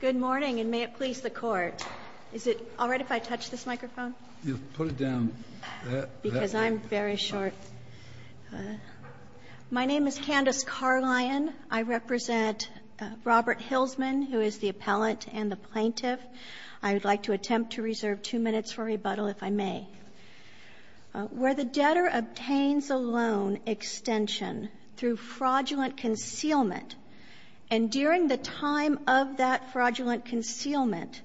Good morning, and may it please the court. Is it all right if I touch this microphone? Put it down that way. Because I'm very short. My name is Candace Carlion. I represent Robert Hillsman, who is the appellate and the plaintiff. I would like to attempt to reserve two minutes for rebuttal, if I may. Where the debtor obtains a loan extension through fraudulent concealment, and during the time of that fraudulent concealment,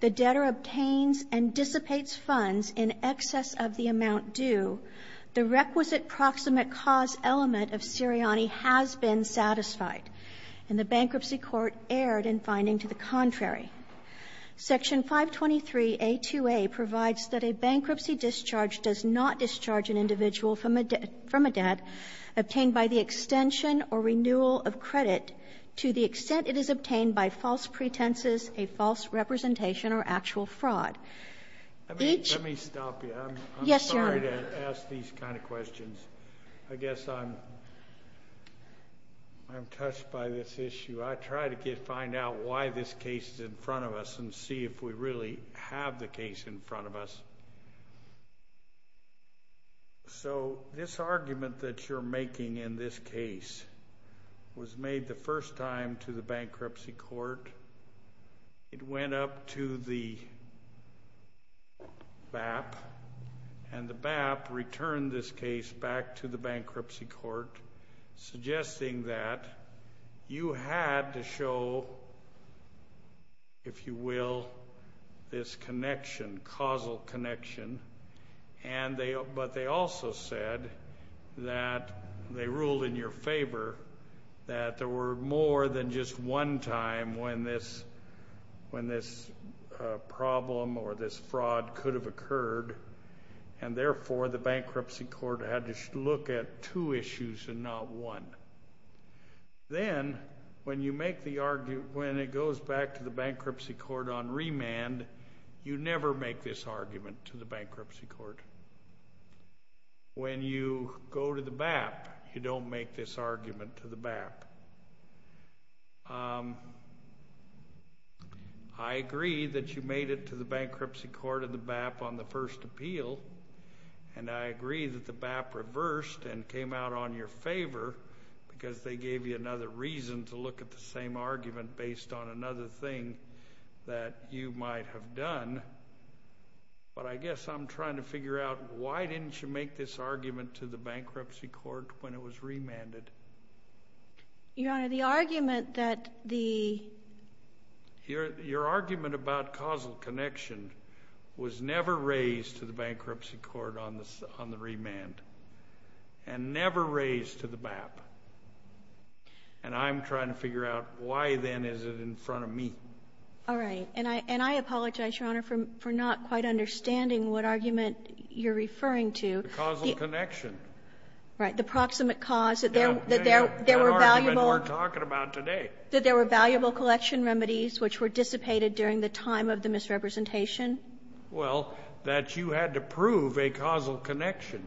the debtor obtains and dissipates funds in excess of the amount due, the requisite proximate cause element of Sirianni has been satisfied, and the bankruptcy court erred in finding to the contrary. Section 523A2A provides that a bankruptcy discharge does not discharge an individual from a debt obtained by the extension or renewal of credit to the extent it is obtained by false pretenses, a false representation, or actual fraud. Let me stop you. Yes, Your Honor. I'm sorry to ask these kind of questions. I guess I'm touched by this issue. I try to find out why this case is in front of us and see if we really have the case in front of us. So this argument that you're making in this case was made the first time to the bankruptcy court. It went up to the BAP, and the BAP returned this case back to the bankruptcy court, suggesting that you had to show, if you will, this connection, causal connection, but they also said that they ruled in your favor that there were more than just one time when this problem or this fraud could have occurred, and therefore the bankruptcy court had to look at two issues and not one. Then, when it goes back to the bankruptcy court on remand, you never make this argument to the bankruptcy court. When you go to the BAP, you don't make this argument to the BAP. I agree that you made it to the bankruptcy court of the BAP on the first appeal, and I agree that the BAP reversed and came out on your favor because they gave you another reason to look at the same argument based on another thing that you might have done, but I guess I'm trying to figure out why didn't you make this argument to the bankruptcy court when it was remanded? Your Honor, the argument that the— Your argument about causal connection was never raised to the bankruptcy court on the remand and never raised to the BAP, and I'm trying to figure out why, then, is it in front of me? All right, and I apologize, Your Honor, for not quite understanding what argument you're referring to. The causal connection. Right. The proximate cause that there were valuable— The argument we're talking about today. That there were valuable collection remedies which were dissipated during the time of the misrepresentation. Well, that you had to prove a causal connection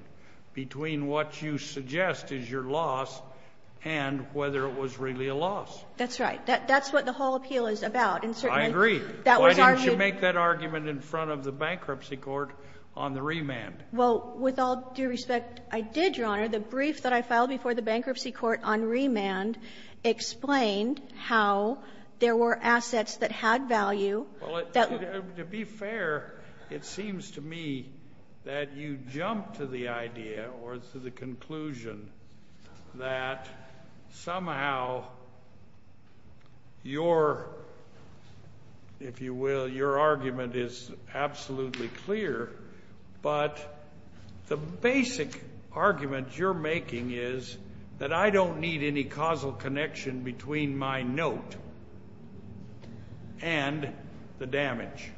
between what you suggest is your loss and whether it was really a loss. That's right. That's what the whole appeal is about, and certainly— I agree. Why didn't you make that argument in front of the bankruptcy court on the remand? Well, with all due respect, I did, Your Honor. The brief that I filed before the bankruptcy court on remand explained how there were assets that had value that— Well, to be fair, it seems to me that you jumped to the idea or to the conclusion that somehow your, if you will, your argument is absolutely clear, but the basic argument you're making is that I don't need any causal connection between my note and the damage.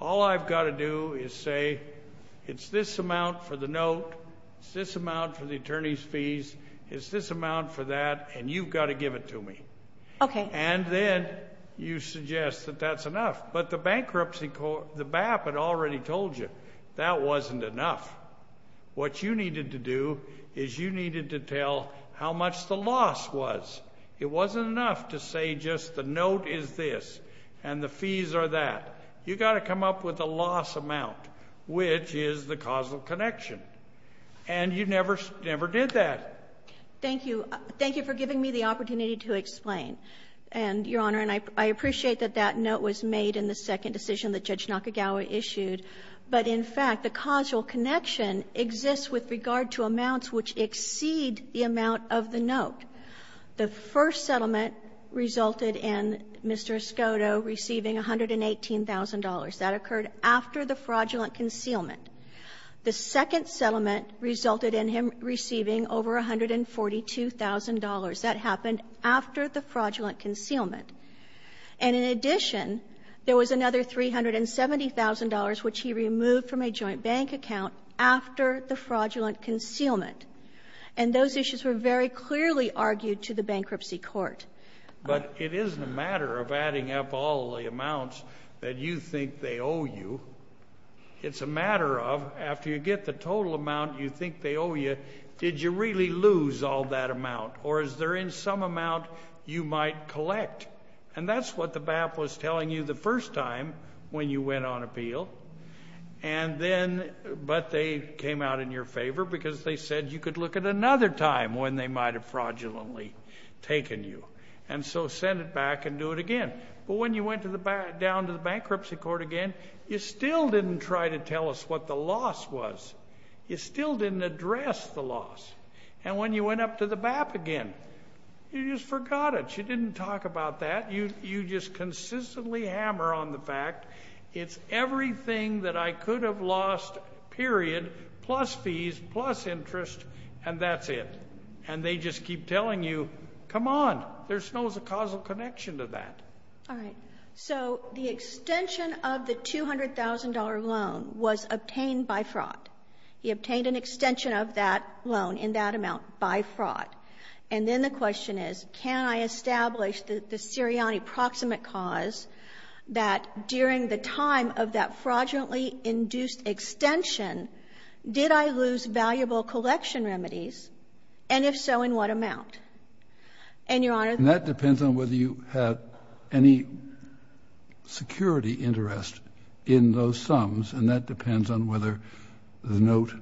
All I've got to do is say, it's this amount for the note, it's this amount for the attorney's fees, it's this amount for that, and you've got to give it to me. Okay. And then you suggest that that's enough, but the bankruptcy court, the BAP, had already told you that wasn't enough. What you needed to do is you needed to tell how much the loss was. It wasn't enough to say just the note is this and the fees are that. You've got to come up with a loss amount, which is the causal connection, and you never did that. Thank you. Thank you for giving me the opportunity to explain, Your Honor. And I appreciate that that note was made in the second decision that Judge Nakagawa issued. But in fact, the causal connection exists with regard to amounts which exceed the amount of the note. The first settlement resulted in Mr. Escoto receiving $118,000. That occurred after the fraudulent concealment. The second settlement resulted in him receiving over $142,000. That happened after the fraudulent concealment. And in addition, there was another $370,000 which he removed from a joint bank account after the fraudulent concealment. And those issues were very clearly argued to the bankruptcy court. But it isn't a matter of adding up all the amounts that you think they owe you. It's a matter of after you get the total amount you think they owe you, did you really lose all that amount? Or is there in some amount you might collect? And that's what the BAP was telling you the first time when you went on appeal. But they came out in your favor because they said you could look at another time when they might have fraudulently taken you. And so send it back and do it again. But when you went down to the bankruptcy court again, you still didn't try to tell us what the loss was. You still didn't address the loss. And when you went up to the BAP again, you just forgot it. You didn't talk about that. You just consistently hammer on the fact it's everything that I could have lost, period, plus fees, plus interest, and that's it. And they just keep telling you, come on, there's no causal connection to that. All right. So the extension of the $200,000 loan was obtained by fraud. He obtained an extension of that loan in that amount by fraud. And then the question is, can I establish the Sirianni proximate cause that during the time of that fraudulently induced extension, did I lose valuable collection remedies? And if so, in what amount? And, Your Honor, that depends on whether you had any security interest in those sums, and that depends on whether the note,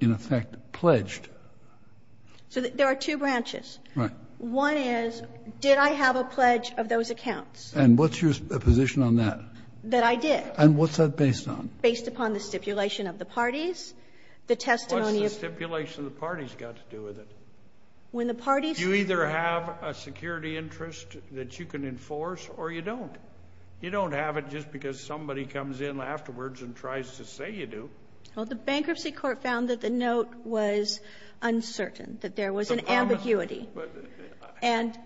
in effect, pledged. So there are two branches. Right. One is, did I have a pledge of those accounts? And what's your position on that? That I did. And what's that based on? Based upon the stipulation of the parties, the testimony of the parties. What's the stipulation of the parties got to do with it? When the parties... Do you either have a security interest that you can enforce or you don't? You don't have it just because somebody comes in afterwards and tries to say you do. Well, the Bankruptcy Court found that the note was uncertain, that there was an ambiguity. And...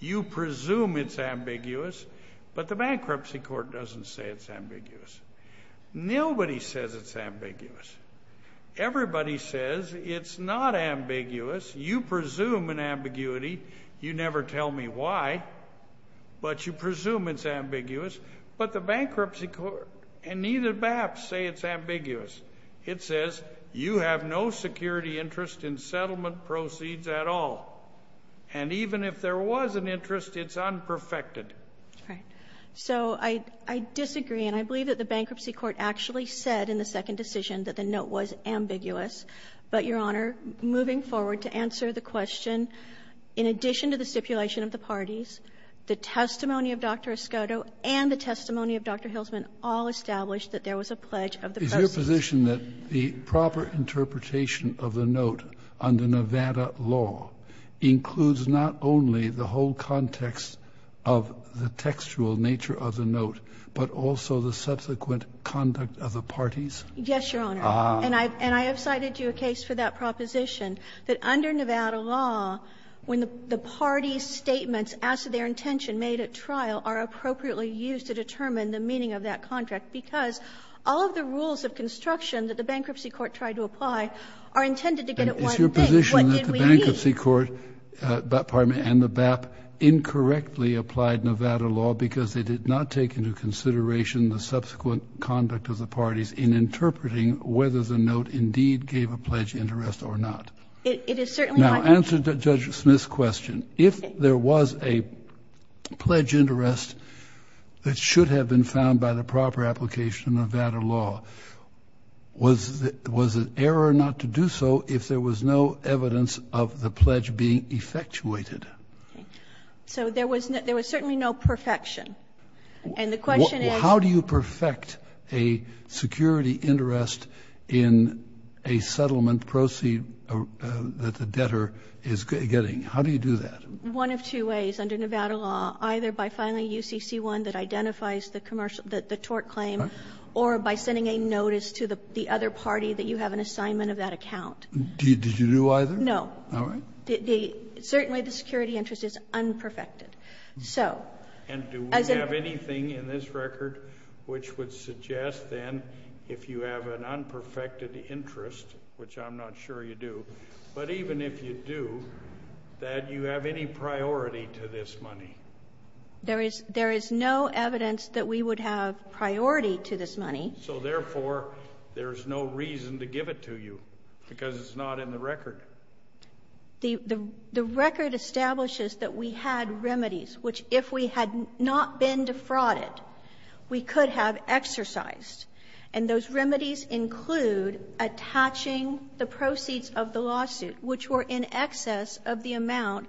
You presume it's ambiguous, but the Bankruptcy Court doesn't say it's ambiguous. Nobody says it's ambiguous. Everybody says it's not ambiguous. You presume an ambiguity. You never tell me why, but you presume it's ambiguous. But the Bankruptcy Court and neither BAP say it's ambiguous. It says you have no security interest in settlement proceeds at all. And even if there was an interest, it's unperfected. All right. So I disagree, and I believe that the Bankruptcy Court actually said in the second decision that the note was ambiguous. But, Your Honor, moving forward to answer the question, in addition to the stipulation of the parties, the testimony of Dr. Escoto and the testimony of Dr. Hilsman all established that there was a pledge of the president. The proposition that the proper interpretation of the note under Nevada law includes not only the whole context of the textual nature of the note, but also the subsequent conduct of the parties? Yes, Your Honor. And I have cited to you a case for that proposition, that under Nevada law, when the parties' statements as to their intention made at trial are appropriately used to determine the meaning of that contract, because all of the rules of construction that the Bankruptcy Court tried to apply are intended to get at one thing. What did we need? It's your position that the Bankruptcy Court, pardon me, and the BAP incorrectly applied Nevada law because they did not take into consideration the subsequent conduct of the parties in interpreting whether the note indeed gave a pledge interest or not? It is certainly not. To answer Judge Smith's question, if there was a pledge interest that should have been found by the proper application of Nevada law, was it error not to do so if there was no evidence of the pledge being effectuated? So there was certainly no perfection. And the question is? How do you perfect a security interest in a settlement proceed that the debtor is getting? How do you do that? One of two ways. Under Nevada law, either by filing UCC1 that identifies the tort claim or by sending a notice to the other party that you have an assignment of that account. Did you do either? No. All right. Certainly the security interest is unperfected. And do we have anything in this record which would suggest then if you have an assignment to do that you have any priority to this money? There is no evidence that we would have priority to this money. So therefore, there is no reason to give it to you because it's not in the record. The record establishes that we had remedies, which if we had not been defrauded, we could have exercised. And those remedies include attaching the proceeds of the lawsuit, which were in excess of the amount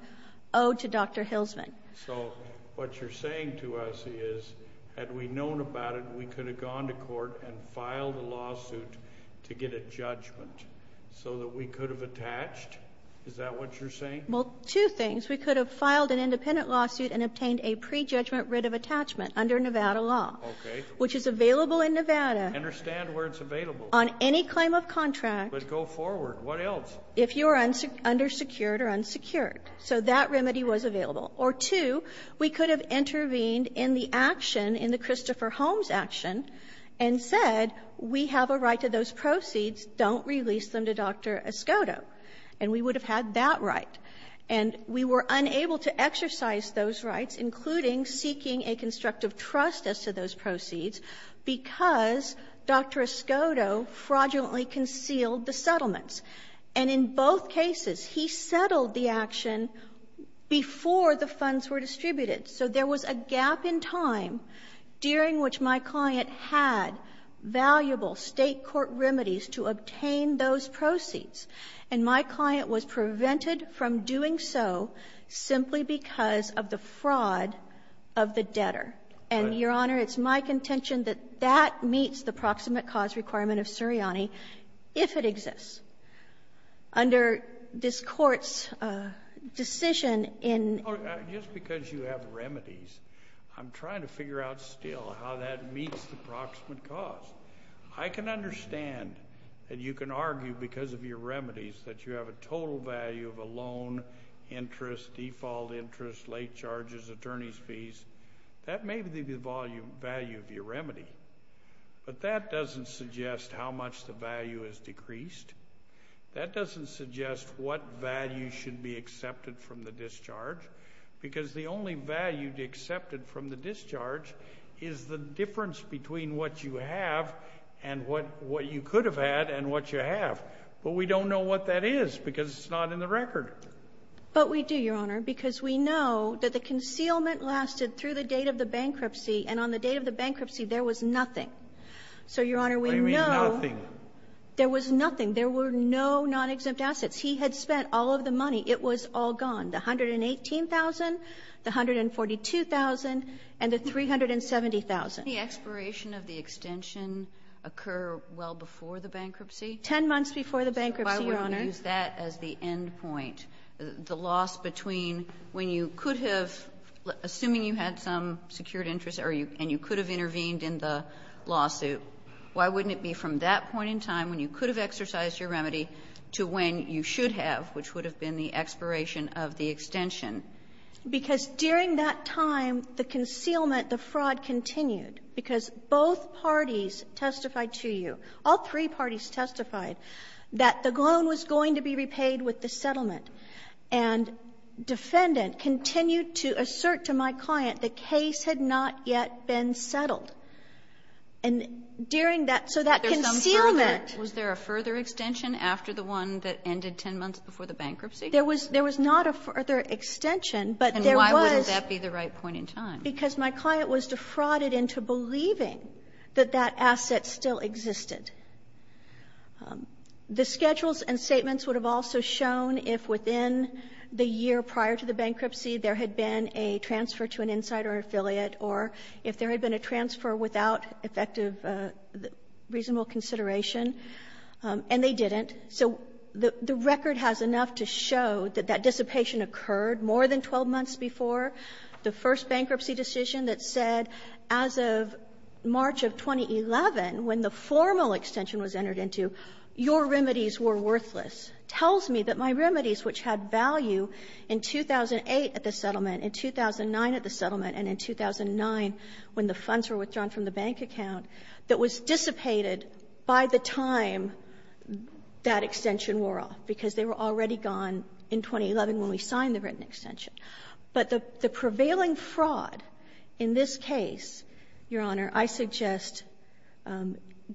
owed to Dr. Hilsman. So what you're saying to us is had we known about it, we could have gone to court and filed a lawsuit to get a judgment so that we could have attached? Is that what you're saying? Well, two things. We could have filed an independent lawsuit and obtained a prejudgment writ of on any claim of contract. But go forward. What else? If you are undersecured or unsecured. So that remedy was available. Or two, we could have intervened in the action, in the Christopher Holmes action, and said we have a right to those proceeds. Don't release them to Dr. Escoto. And we would have had that right. And we were unable to exercise those rights, including seeking a constructive trust as to those proceeds, because Dr. Escoto fraudulently concealed the settlements. And in both cases, he settled the action before the funds were distributed. So there was a gap in time during which my client had valuable State court remedies to obtain those proceeds. And my client was prevented from doing so simply because of the fraud of the debtor. And, Your Honor, it's my contention that that meets the proximate cause requirement of Suriani if it exists. Under this Court's decision in ---- Just because you have remedies, I'm trying to figure out still how that meets the proximate cause. I can understand that you can argue because of your remedies that you have a total value of a loan, interest, default interest, late charges, attorney's fees. That may be the value of your remedy, but that doesn't suggest how much the value has decreased. That doesn't suggest what value should be accepted from the discharge, because the only value accepted from the discharge is the difference between what you have and what you could have had and what you have. But we don't know what that is, because it's not in the record. But we do, Your Honor, because we know that the concealment lasted through the date of the bankruptcy, and on the date of the bankruptcy, there was nothing. So, Your Honor, we know ---- What do you mean, nothing? There was nothing. There were no non-exempt assets. He had spent all of the money. It was all gone, the $118,000, the $142,000, and the $370,000. Didn't the expiration of the extension occur well before the bankruptcy? Ten months before the bankruptcy, Your Honor. Why didn't you use that as the end point, the loss between when you could have, assuming you had some secured interest and you could have intervened in the lawsuit, why wouldn't it be from that point in time when you could have exercised your remedy to when you should have, which would have been the expiration of the extension? Because during that time, the concealment, the fraud continued, because both parties testified to you, all three parties testified that the loan was going to be repaid with the settlement, and defendant continued to assert to my client the case had not yet been settled. And during that, so that concealment ---- Was there a further extension after the one that ended ten months before the bankruptcy? There was not a further extension, but there was ---- And why wouldn't that be the right point in time? Because my client was defrauded into believing that that asset still existed. The schedules and statements would have also shown if within the year prior to the bankruptcy there had been a transfer to an insider affiliate or if there had been a transfer without effective reasonable consideration, and they didn't. So the record has enough to show that that dissipation occurred more than 12 months before. The first bankruptcy decision that said, as of March of 2011, when the formal extension was entered into, your remedies were worthless, tells me that my remedies, which had value in 2008 at the settlement, in 2009 at the settlement, and in 2009 when the funds were withdrawn from the bank account, that was dissipated by the time that extension wore off, because they were already gone in 2011 when we signed the written extension. But the prevailing fraud in this case, Your Honor, I suggest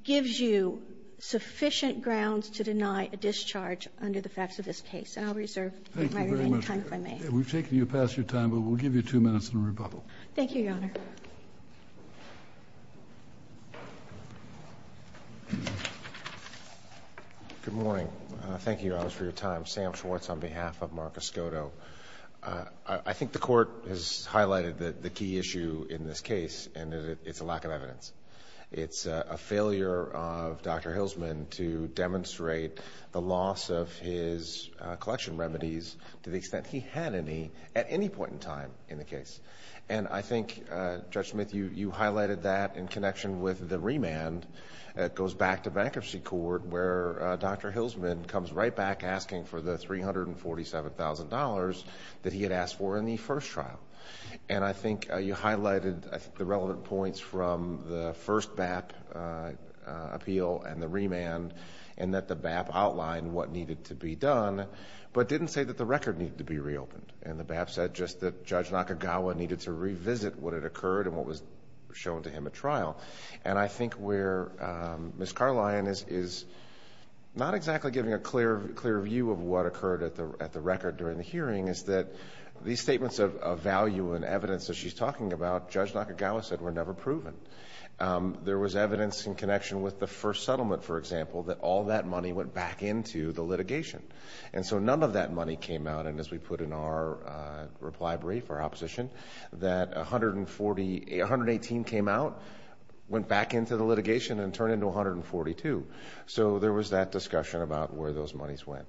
gives you sufficient grounds to deny a discharge under the facts of this case. And I'll reserve my remaining time if I may. Thank you very much, Your Honor. We've taken you past your time, but we'll give you two minutes in rebuttal. Thank you, Your Honor. Good morning. Thank you, Your Honor, for your time. I'm Sam Schwartz on behalf of Marcus Cotto. I think the Court has highlighted the key issue in this case, and it's a lack of evidence. It's a failure of Dr. Hilsman to demonstrate the loss of his collection remedies to the extent he had any at any point in time in the case. And I think, Judge Smith, you highlighted that in connection with the remand that goes back to bankruptcy court where Dr. Hilsman comes right back asking for the $347,000 that he had asked for in the first trial. And I think you highlighted the relevant points from the first BAP appeal and the remand, and that the BAP outlined what needed to be done, but didn't say that the record needed to be reopened. And the BAP said just that Judge Nakagawa needed to revisit what had occurred and what was shown to him at trial. And I think where Ms. Carlion is not exactly giving a clear view of what occurred at the record during the hearing is that these statements of value and evidence that she's talking about, Judge Nakagawa said, were never proven. There was evidence in connection with the first settlement, for example, that all that money went back into the litigation. And so none of that money came out. And as we put in our reply brief, our opposition, that $118 came out, went back into the litigation, and turned into $142. So there was that discussion about where those monies went.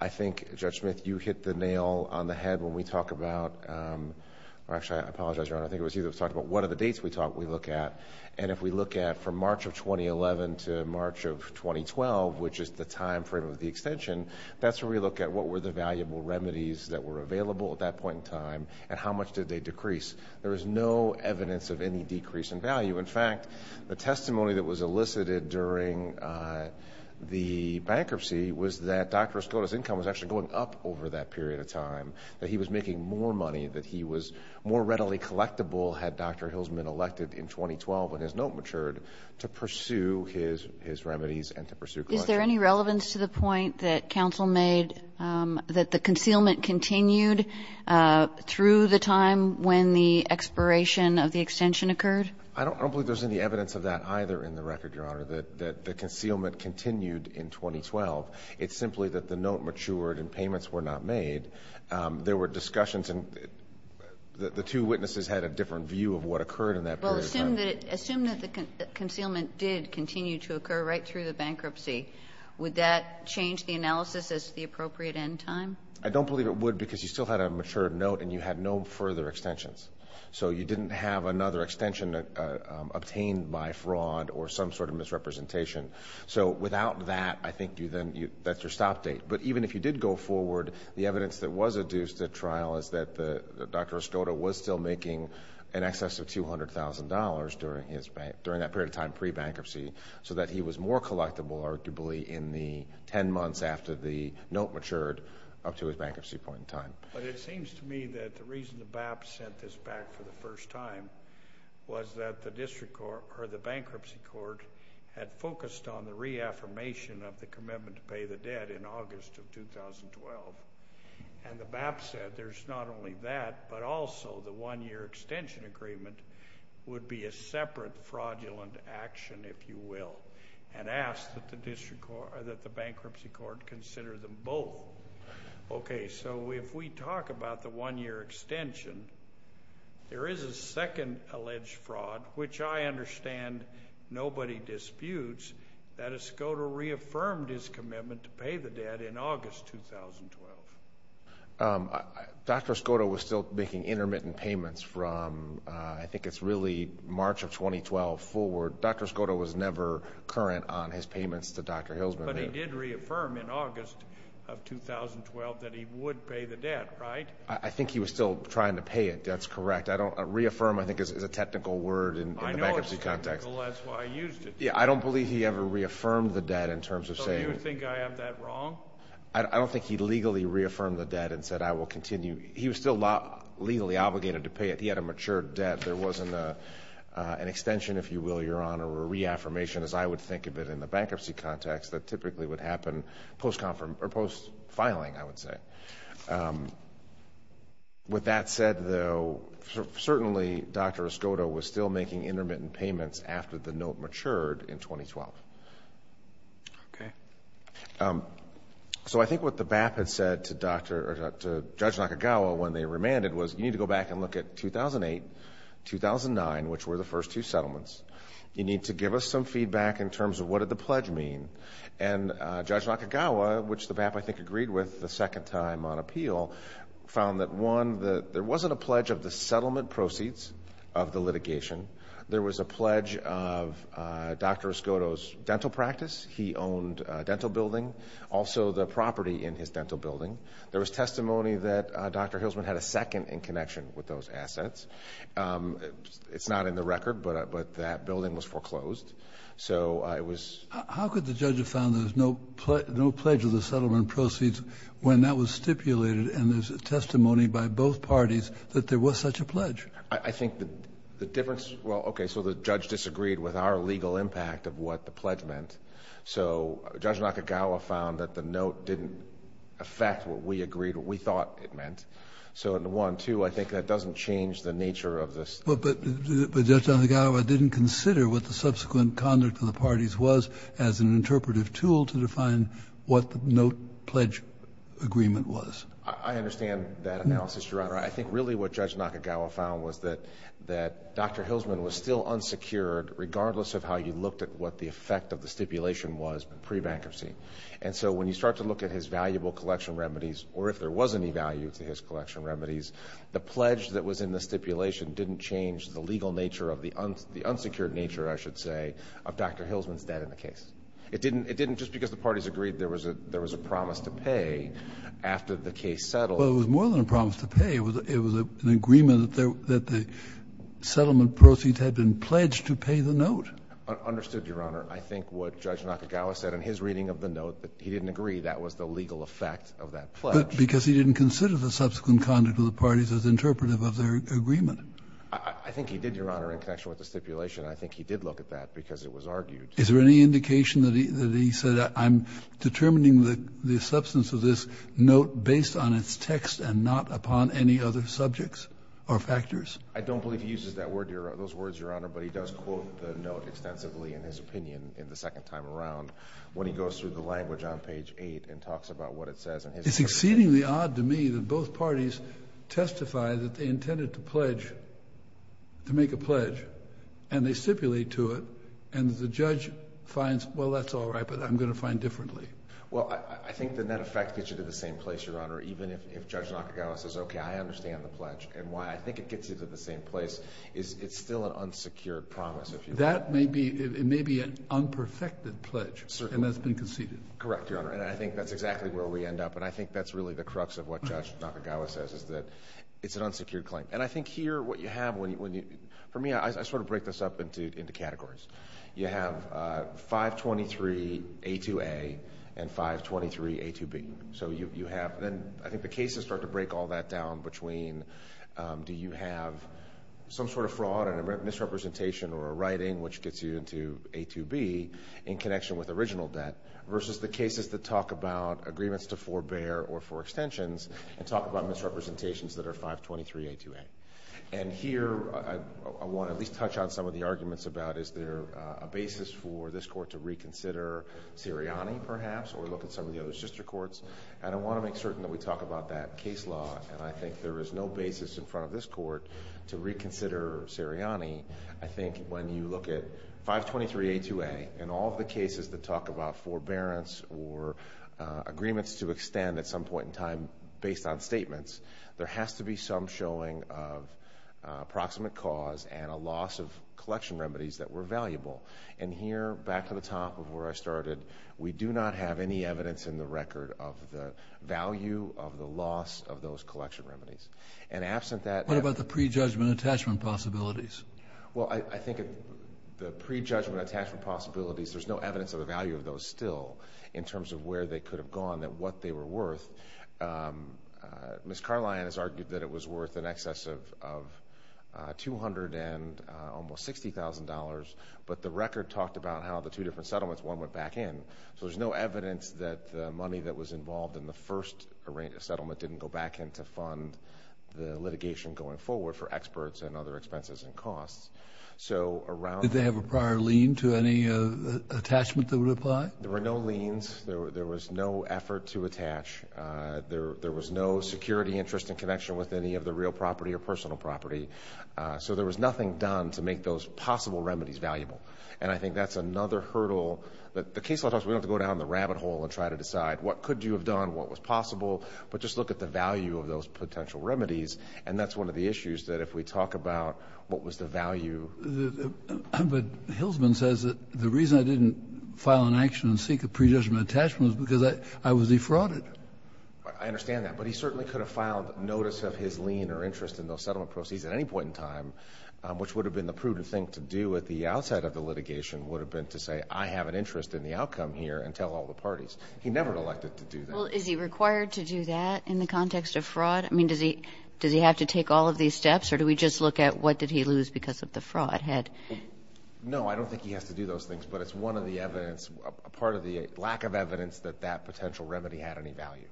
I think, Judge Smith, you hit the nail on the head when we talk about... Actually, I apologize, Your Honor. I think it was you that was talking about what are the dates we look at. And if we look at from March of 2011 to March of 2012, which is the timeframe of the extension, that's where we look at what were the valuable remedies that were available at that point in time and how much did they decrease. There was no evidence of any decrease in value. In fact, the testimony that was elicited during the bankruptcy was that Dr. Escoda's income was actually going up over that period of time, that he was making more money, that he was more readily collectible, had Dr. Hilsman elected in 2012 when his note matured, to pursue his remedies and to pursue collection. Is there any relevance to the point that counsel made that the concealment continued through the time when the expiration of the extension occurred? I don't believe there's any evidence of that either in the record, Your Honor, that the concealment continued in 2012. It's simply that the note matured and payments were not made. There were discussions and the two witnesses had a different view of what occurred in that period of time. Would that change the analysis as to the appropriate end time? I don't believe it would because you still had a matured note and you had no further extensions. You didn't have another extension obtained by fraud or some sort of misrepresentation. Without that, I think that's your stop date. Even if you did go forward, the evidence that was adduced at trial is that Dr. Escoda was still making in excess of $200,000 during that period of time pre-bankruptcy so that he was more collectible, arguably, in the 10 months after the note matured up to his bankruptcy point in time. It seems to me that the reason the BAP sent this back for the first time was that the bankruptcy court had focused on the reaffirmation of the commitment to pay the debt in August of 2012. The BAP said there's not only that but also the one-year extension agreement would be a separate fraudulent action, if you will, and asked that the bankruptcy court consider them both. Okay, so if we talk about the one-year extension, there is a second alleged fraud, which I understand nobody disputes, that Escoda reaffirmed his commitment to pay the debt in August 2012. Dr. Escoda was still making intermittent payments from, I think it's really March of 2012 forward. Dr. Escoda was never current on his payments to Dr. Hilsman. But he did reaffirm in August of 2012 that he would pay the debt, right? I think he was still trying to pay it. That's correct. Reaffirm, I think, is a technical word in the bankruptcy context. I know it's technical. That's why I used it. Yeah, I don't believe he ever reaffirmed the debt in terms of saying it. So you think I have that wrong? I don't think he legally reaffirmed the debt and said, I will continue. He was still legally obligated to pay it. He had a matured debt. There wasn't an extension, if you will, Your Honor, or a reaffirmation as I would think of it in the bankruptcy context that typically would happen post-filing, I would say. With that said, though, certainly Dr. Escoda was still making intermittent payments after the note matured in 2012. Okay. So I think what the BAP had said to Judge Nakagawa when they remanded was you need to go back and look at 2008, 2009, which were the first two settlements. You need to give us some feedback in terms of what did the pledge mean. And Judge Nakagawa, which the BAP, I think, agreed with the second time on appeal, found that, one, there wasn't a pledge of the settlement proceeds of the litigation. There was a pledge of Dr. Escoda's dental practice. He owned a dental building, also the property in his dental building. There was testimony that Dr. Hilsman had a second in connection with those assets. It's not in the record, but that building was foreclosed. So it was— How could the judge have found there was no pledge of the settlement proceeds when that was stipulated and there's testimony by both parties that there was such a pledge? I think the difference—well, okay, so the judge disagreed with our legal impact of what the pledge meant. So Judge Nakagawa found that the note didn't affect what we agreed, what we thought it meant. So, one, two, I think that doesn't change the nature of this. But Judge Nakagawa didn't consider what the subsequent conduct of the parties was as an interpretive tool to define what the note pledge agreement was. I understand that analysis, Your Honor. I think really what Judge Nakagawa found was that Dr. Hilsman was still unsecured regardless of how you looked at what the effect of the stipulation was pre-bankruptcy. And so when you start to look at his valuable collection remedies, or if there was any value to his collection remedies, the pledge that was in the stipulation didn't change the legal nature of the— the unsecured nature, I should say, of Dr. Hilsman's debt in the case. It didn't—just because the parties agreed there was a promise to pay after the case settled— it was an agreement that the settlement proceeds had been pledged to pay the note. Understood, Your Honor. I think what Judge Nakagawa said in his reading of the note, that he didn't agree that was the legal effect of that pledge. But because he didn't consider the subsequent conduct of the parties as interpretive of their agreement. I think he did, Your Honor, in connection with the stipulation. I think he did look at that because it was argued. Is there any indication that he said I'm determining the substance of this note based on its text and not upon any other subjects or factors? I don't believe he uses that word—those words, Your Honor. But he does quote the note extensively in his opinion in the second time around when he goes through the language on page 8 and talks about what it says. It's exceedingly odd to me that both parties testify that they intended to pledge— to make a pledge, and they stipulate to it, and the judge finds, well, that's all right, but I'm going to find differently. Well, I think the net effect gets you to the same place, Your Honor, even if Judge Nakagawa says, okay, I understand the pledge and why I think it gets you to the same place. It's still an unsecured promise. That may be—it may be an unperfected pledge. Certainly. And that's been conceded. Correct, Your Honor, and I think that's exactly where we end up, and I think that's really the crux of what Judge Nakagawa says, is that it's an unsecured claim. And I think here what you have—for me, I sort of break this up into categories. You have 523A2A and 523A2B. So you have—then I think the cases start to break all that down between do you have some sort of fraud and a misrepresentation or a writing which gets you into A2B in connection with original debt versus the cases that talk about agreements to forebear or forextensions and talk about misrepresentations that are 523A2A. And here I want to at least touch on some of the arguments about is there a basis for this court to reconsider Sirianni perhaps or look at some of the other sister courts. And I want to make certain that we talk about that case law, and I think there is no basis in front of this court to reconsider Sirianni. I think when you look at 523A2A and all the cases that talk about forbearance or agreements to extend at some point in time based on statements, there has to be some showing of proximate cause and a loss of collection remedies that were valuable. And here back to the top of where I started, we do not have any evidence in the record of the value of the loss of those collection remedies. And absent that— What about the prejudgment attachment possibilities? Well, I think the prejudgment attachment possibilities, there's no evidence of the value of those still in terms of where they could have gone and what they were worth. Ms. Carlion has argued that it was worth in excess of $200,000 and almost $60,000, but the record talked about how the two different settlements, one went back in. So there's no evidence that the money that was involved in the first settlement didn't go back in to fund the litigation going forward for experts and other expenses and costs. Did they have a prior lien to any attachment that would apply? There were no liens. There was no effort to attach. There was no security interest in connection with any of the real property or personal property. So there was nothing done to make those possible remedies valuable. And I think that's another hurdle. The case law talks about we don't have to go down the rabbit hole and try to decide what could you have done, what was possible, but just look at the value of those potential remedies. And that's one of the issues that if we talk about what was the value. But Hilsman says that the reason I didn't file an action and seek a predetermined attachment was because I was defrauded. I understand that. But he certainly could have filed notice of his lien or interest in those settlement proceeds at any point in time, which would have been the prudent thing to do at the outset of the litigation would have been to say, I have an interest in the outcome here and tell all the parties. He never elected to do that. Well, is he required to do that in the context of fraud? I mean, does he have to take all of these steps or do we just look at what did he lose because of the fraud? No, I don't think he has to do those things, but it's one of the evidence, part of the lack of evidence that that potential remedy had any value.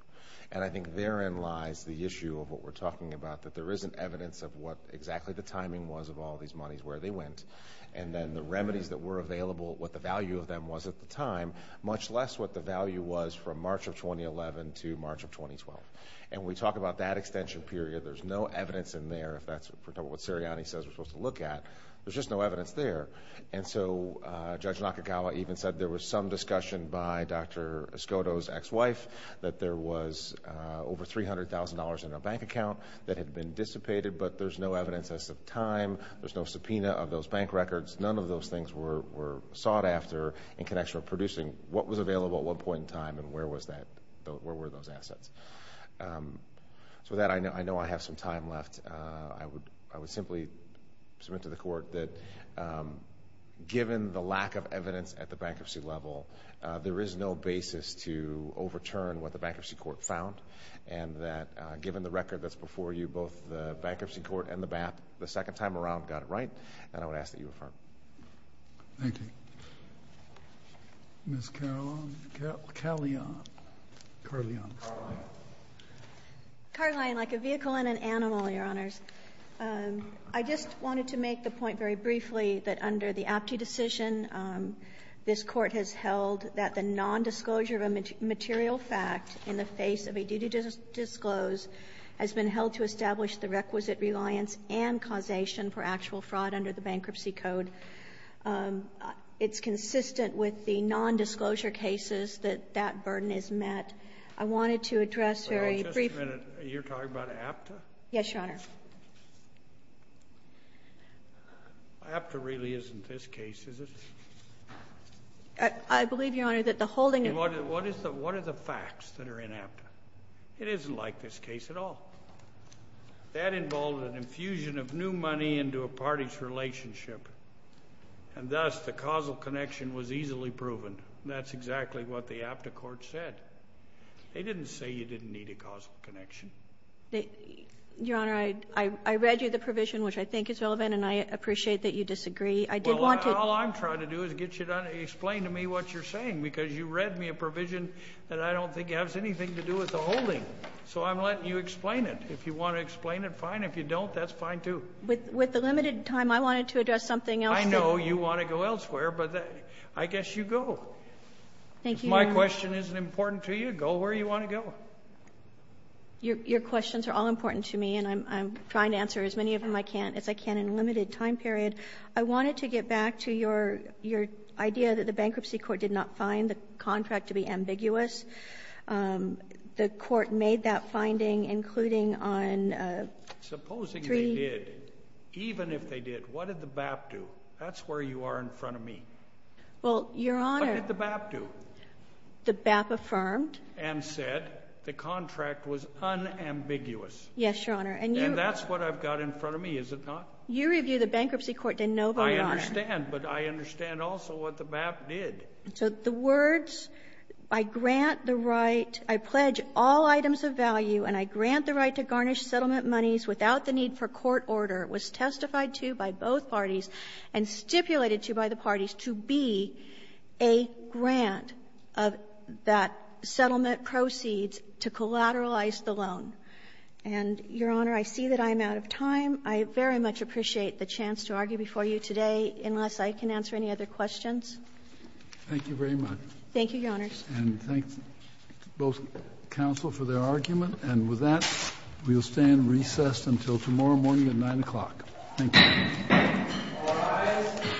And I think therein lies the issue of what we're talking about, that there isn't evidence of what exactly the timing was of all these monies, where they went, and then the remedies that were available, what the value of them was at the time, much less what the value was from March of 2011 to March of 2012. And when we talk about that extension period, there's no evidence in there. If that's what Sirianni says we're supposed to look at, there's just no evidence there. And so Judge Nakagawa even said there was some discussion by Dr. Escoto's ex-wife that there was over $300,000 in a bank account that had been dissipated, but there's no evidence as of time. There's no subpoena of those bank records. None of those things were sought after in connection with producing what was available at what point in time and where were those assets. So with that, I know I have some time left. I would simply submit to the Court that given the lack of evidence at the bankruptcy level, there is no basis to overturn what the Bankruptcy Court found, and that given the record that's before you, both the Bankruptcy Court and the BAP, the second time around got it right, and I would ask that you affirm. Thank you. Ms. Carlyon. Carlyon, like a vehicle and an animal, Your Honors. I just wanted to make the point very briefly that under the Apte decision, this Court has held that the nondisclosure of a material fact in the face of a duty to disclose has been held to establish the requisite reliance and causation for actual fraud under the Bankruptcy Code. It's consistent with the nondisclosure cases that that burden is met. I wanted to address very briefly— Just a minute. You're talking about Apte? Yes, Your Honor. Apte really isn't this case, is it? I believe, Your Honor, that the holding of— What are the facts that are in Apte? It isn't like this case at all. That involved an infusion of new money into a party's relationship, and thus the causal connection was easily proven. That's exactly what the Apte Court said. They didn't say you didn't need a causal connection. Your Honor, I read you the provision, which I think is relevant, and I appreciate that you disagree. I did want to— Well, all I'm trying to do is get you to explain to me what you're saying because you read me a provision that I don't think has anything to do with the holding, so I'm letting you explain it. If you want to explain it, fine. If you don't, that's fine too. With the limited time, I wanted to address something else. I know you want to go elsewhere, but I guess you go. Thank you, Your Honor. If my question isn't important to you, go where you want to go. Your questions are all important to me, and I'm trying to answer as many of them as I can in a limited time period. I wanted to get back to your idea that the bankruptcy court did not find the contract to be ambiguous. The court made that finding, including on three— Supposing they did, even if they did, what did the BAP do? That's where you are in front of me. Well, Your Honor— What did the BAP do? The BAP affirmed— And said the contract was unambiguous. Yes, Your Honor, and you— And that's what I've got in front of me, is it not? You review the bankruptcy court, didn't nobody, Your Honor. I understand, but I understand also what the BAP did. So the words, I grant the right, I pledge all items of value, and I grant the right to garnish settlement monies without the need for court order, was testified to by both parties and stipulated to by the parties to be a grant of that settlement proceeds to collateralize the loan. And, Your Honor, I see that I am out of time. I very much appreciate the chance to argue before you today, unless I can answer any other questions. Thank you very much. Thank you, Your Honors. And thank both counsel for their argument. And with that, we will stand recessed until tomorrow morning at 9 o'clock. Thank you. All rise.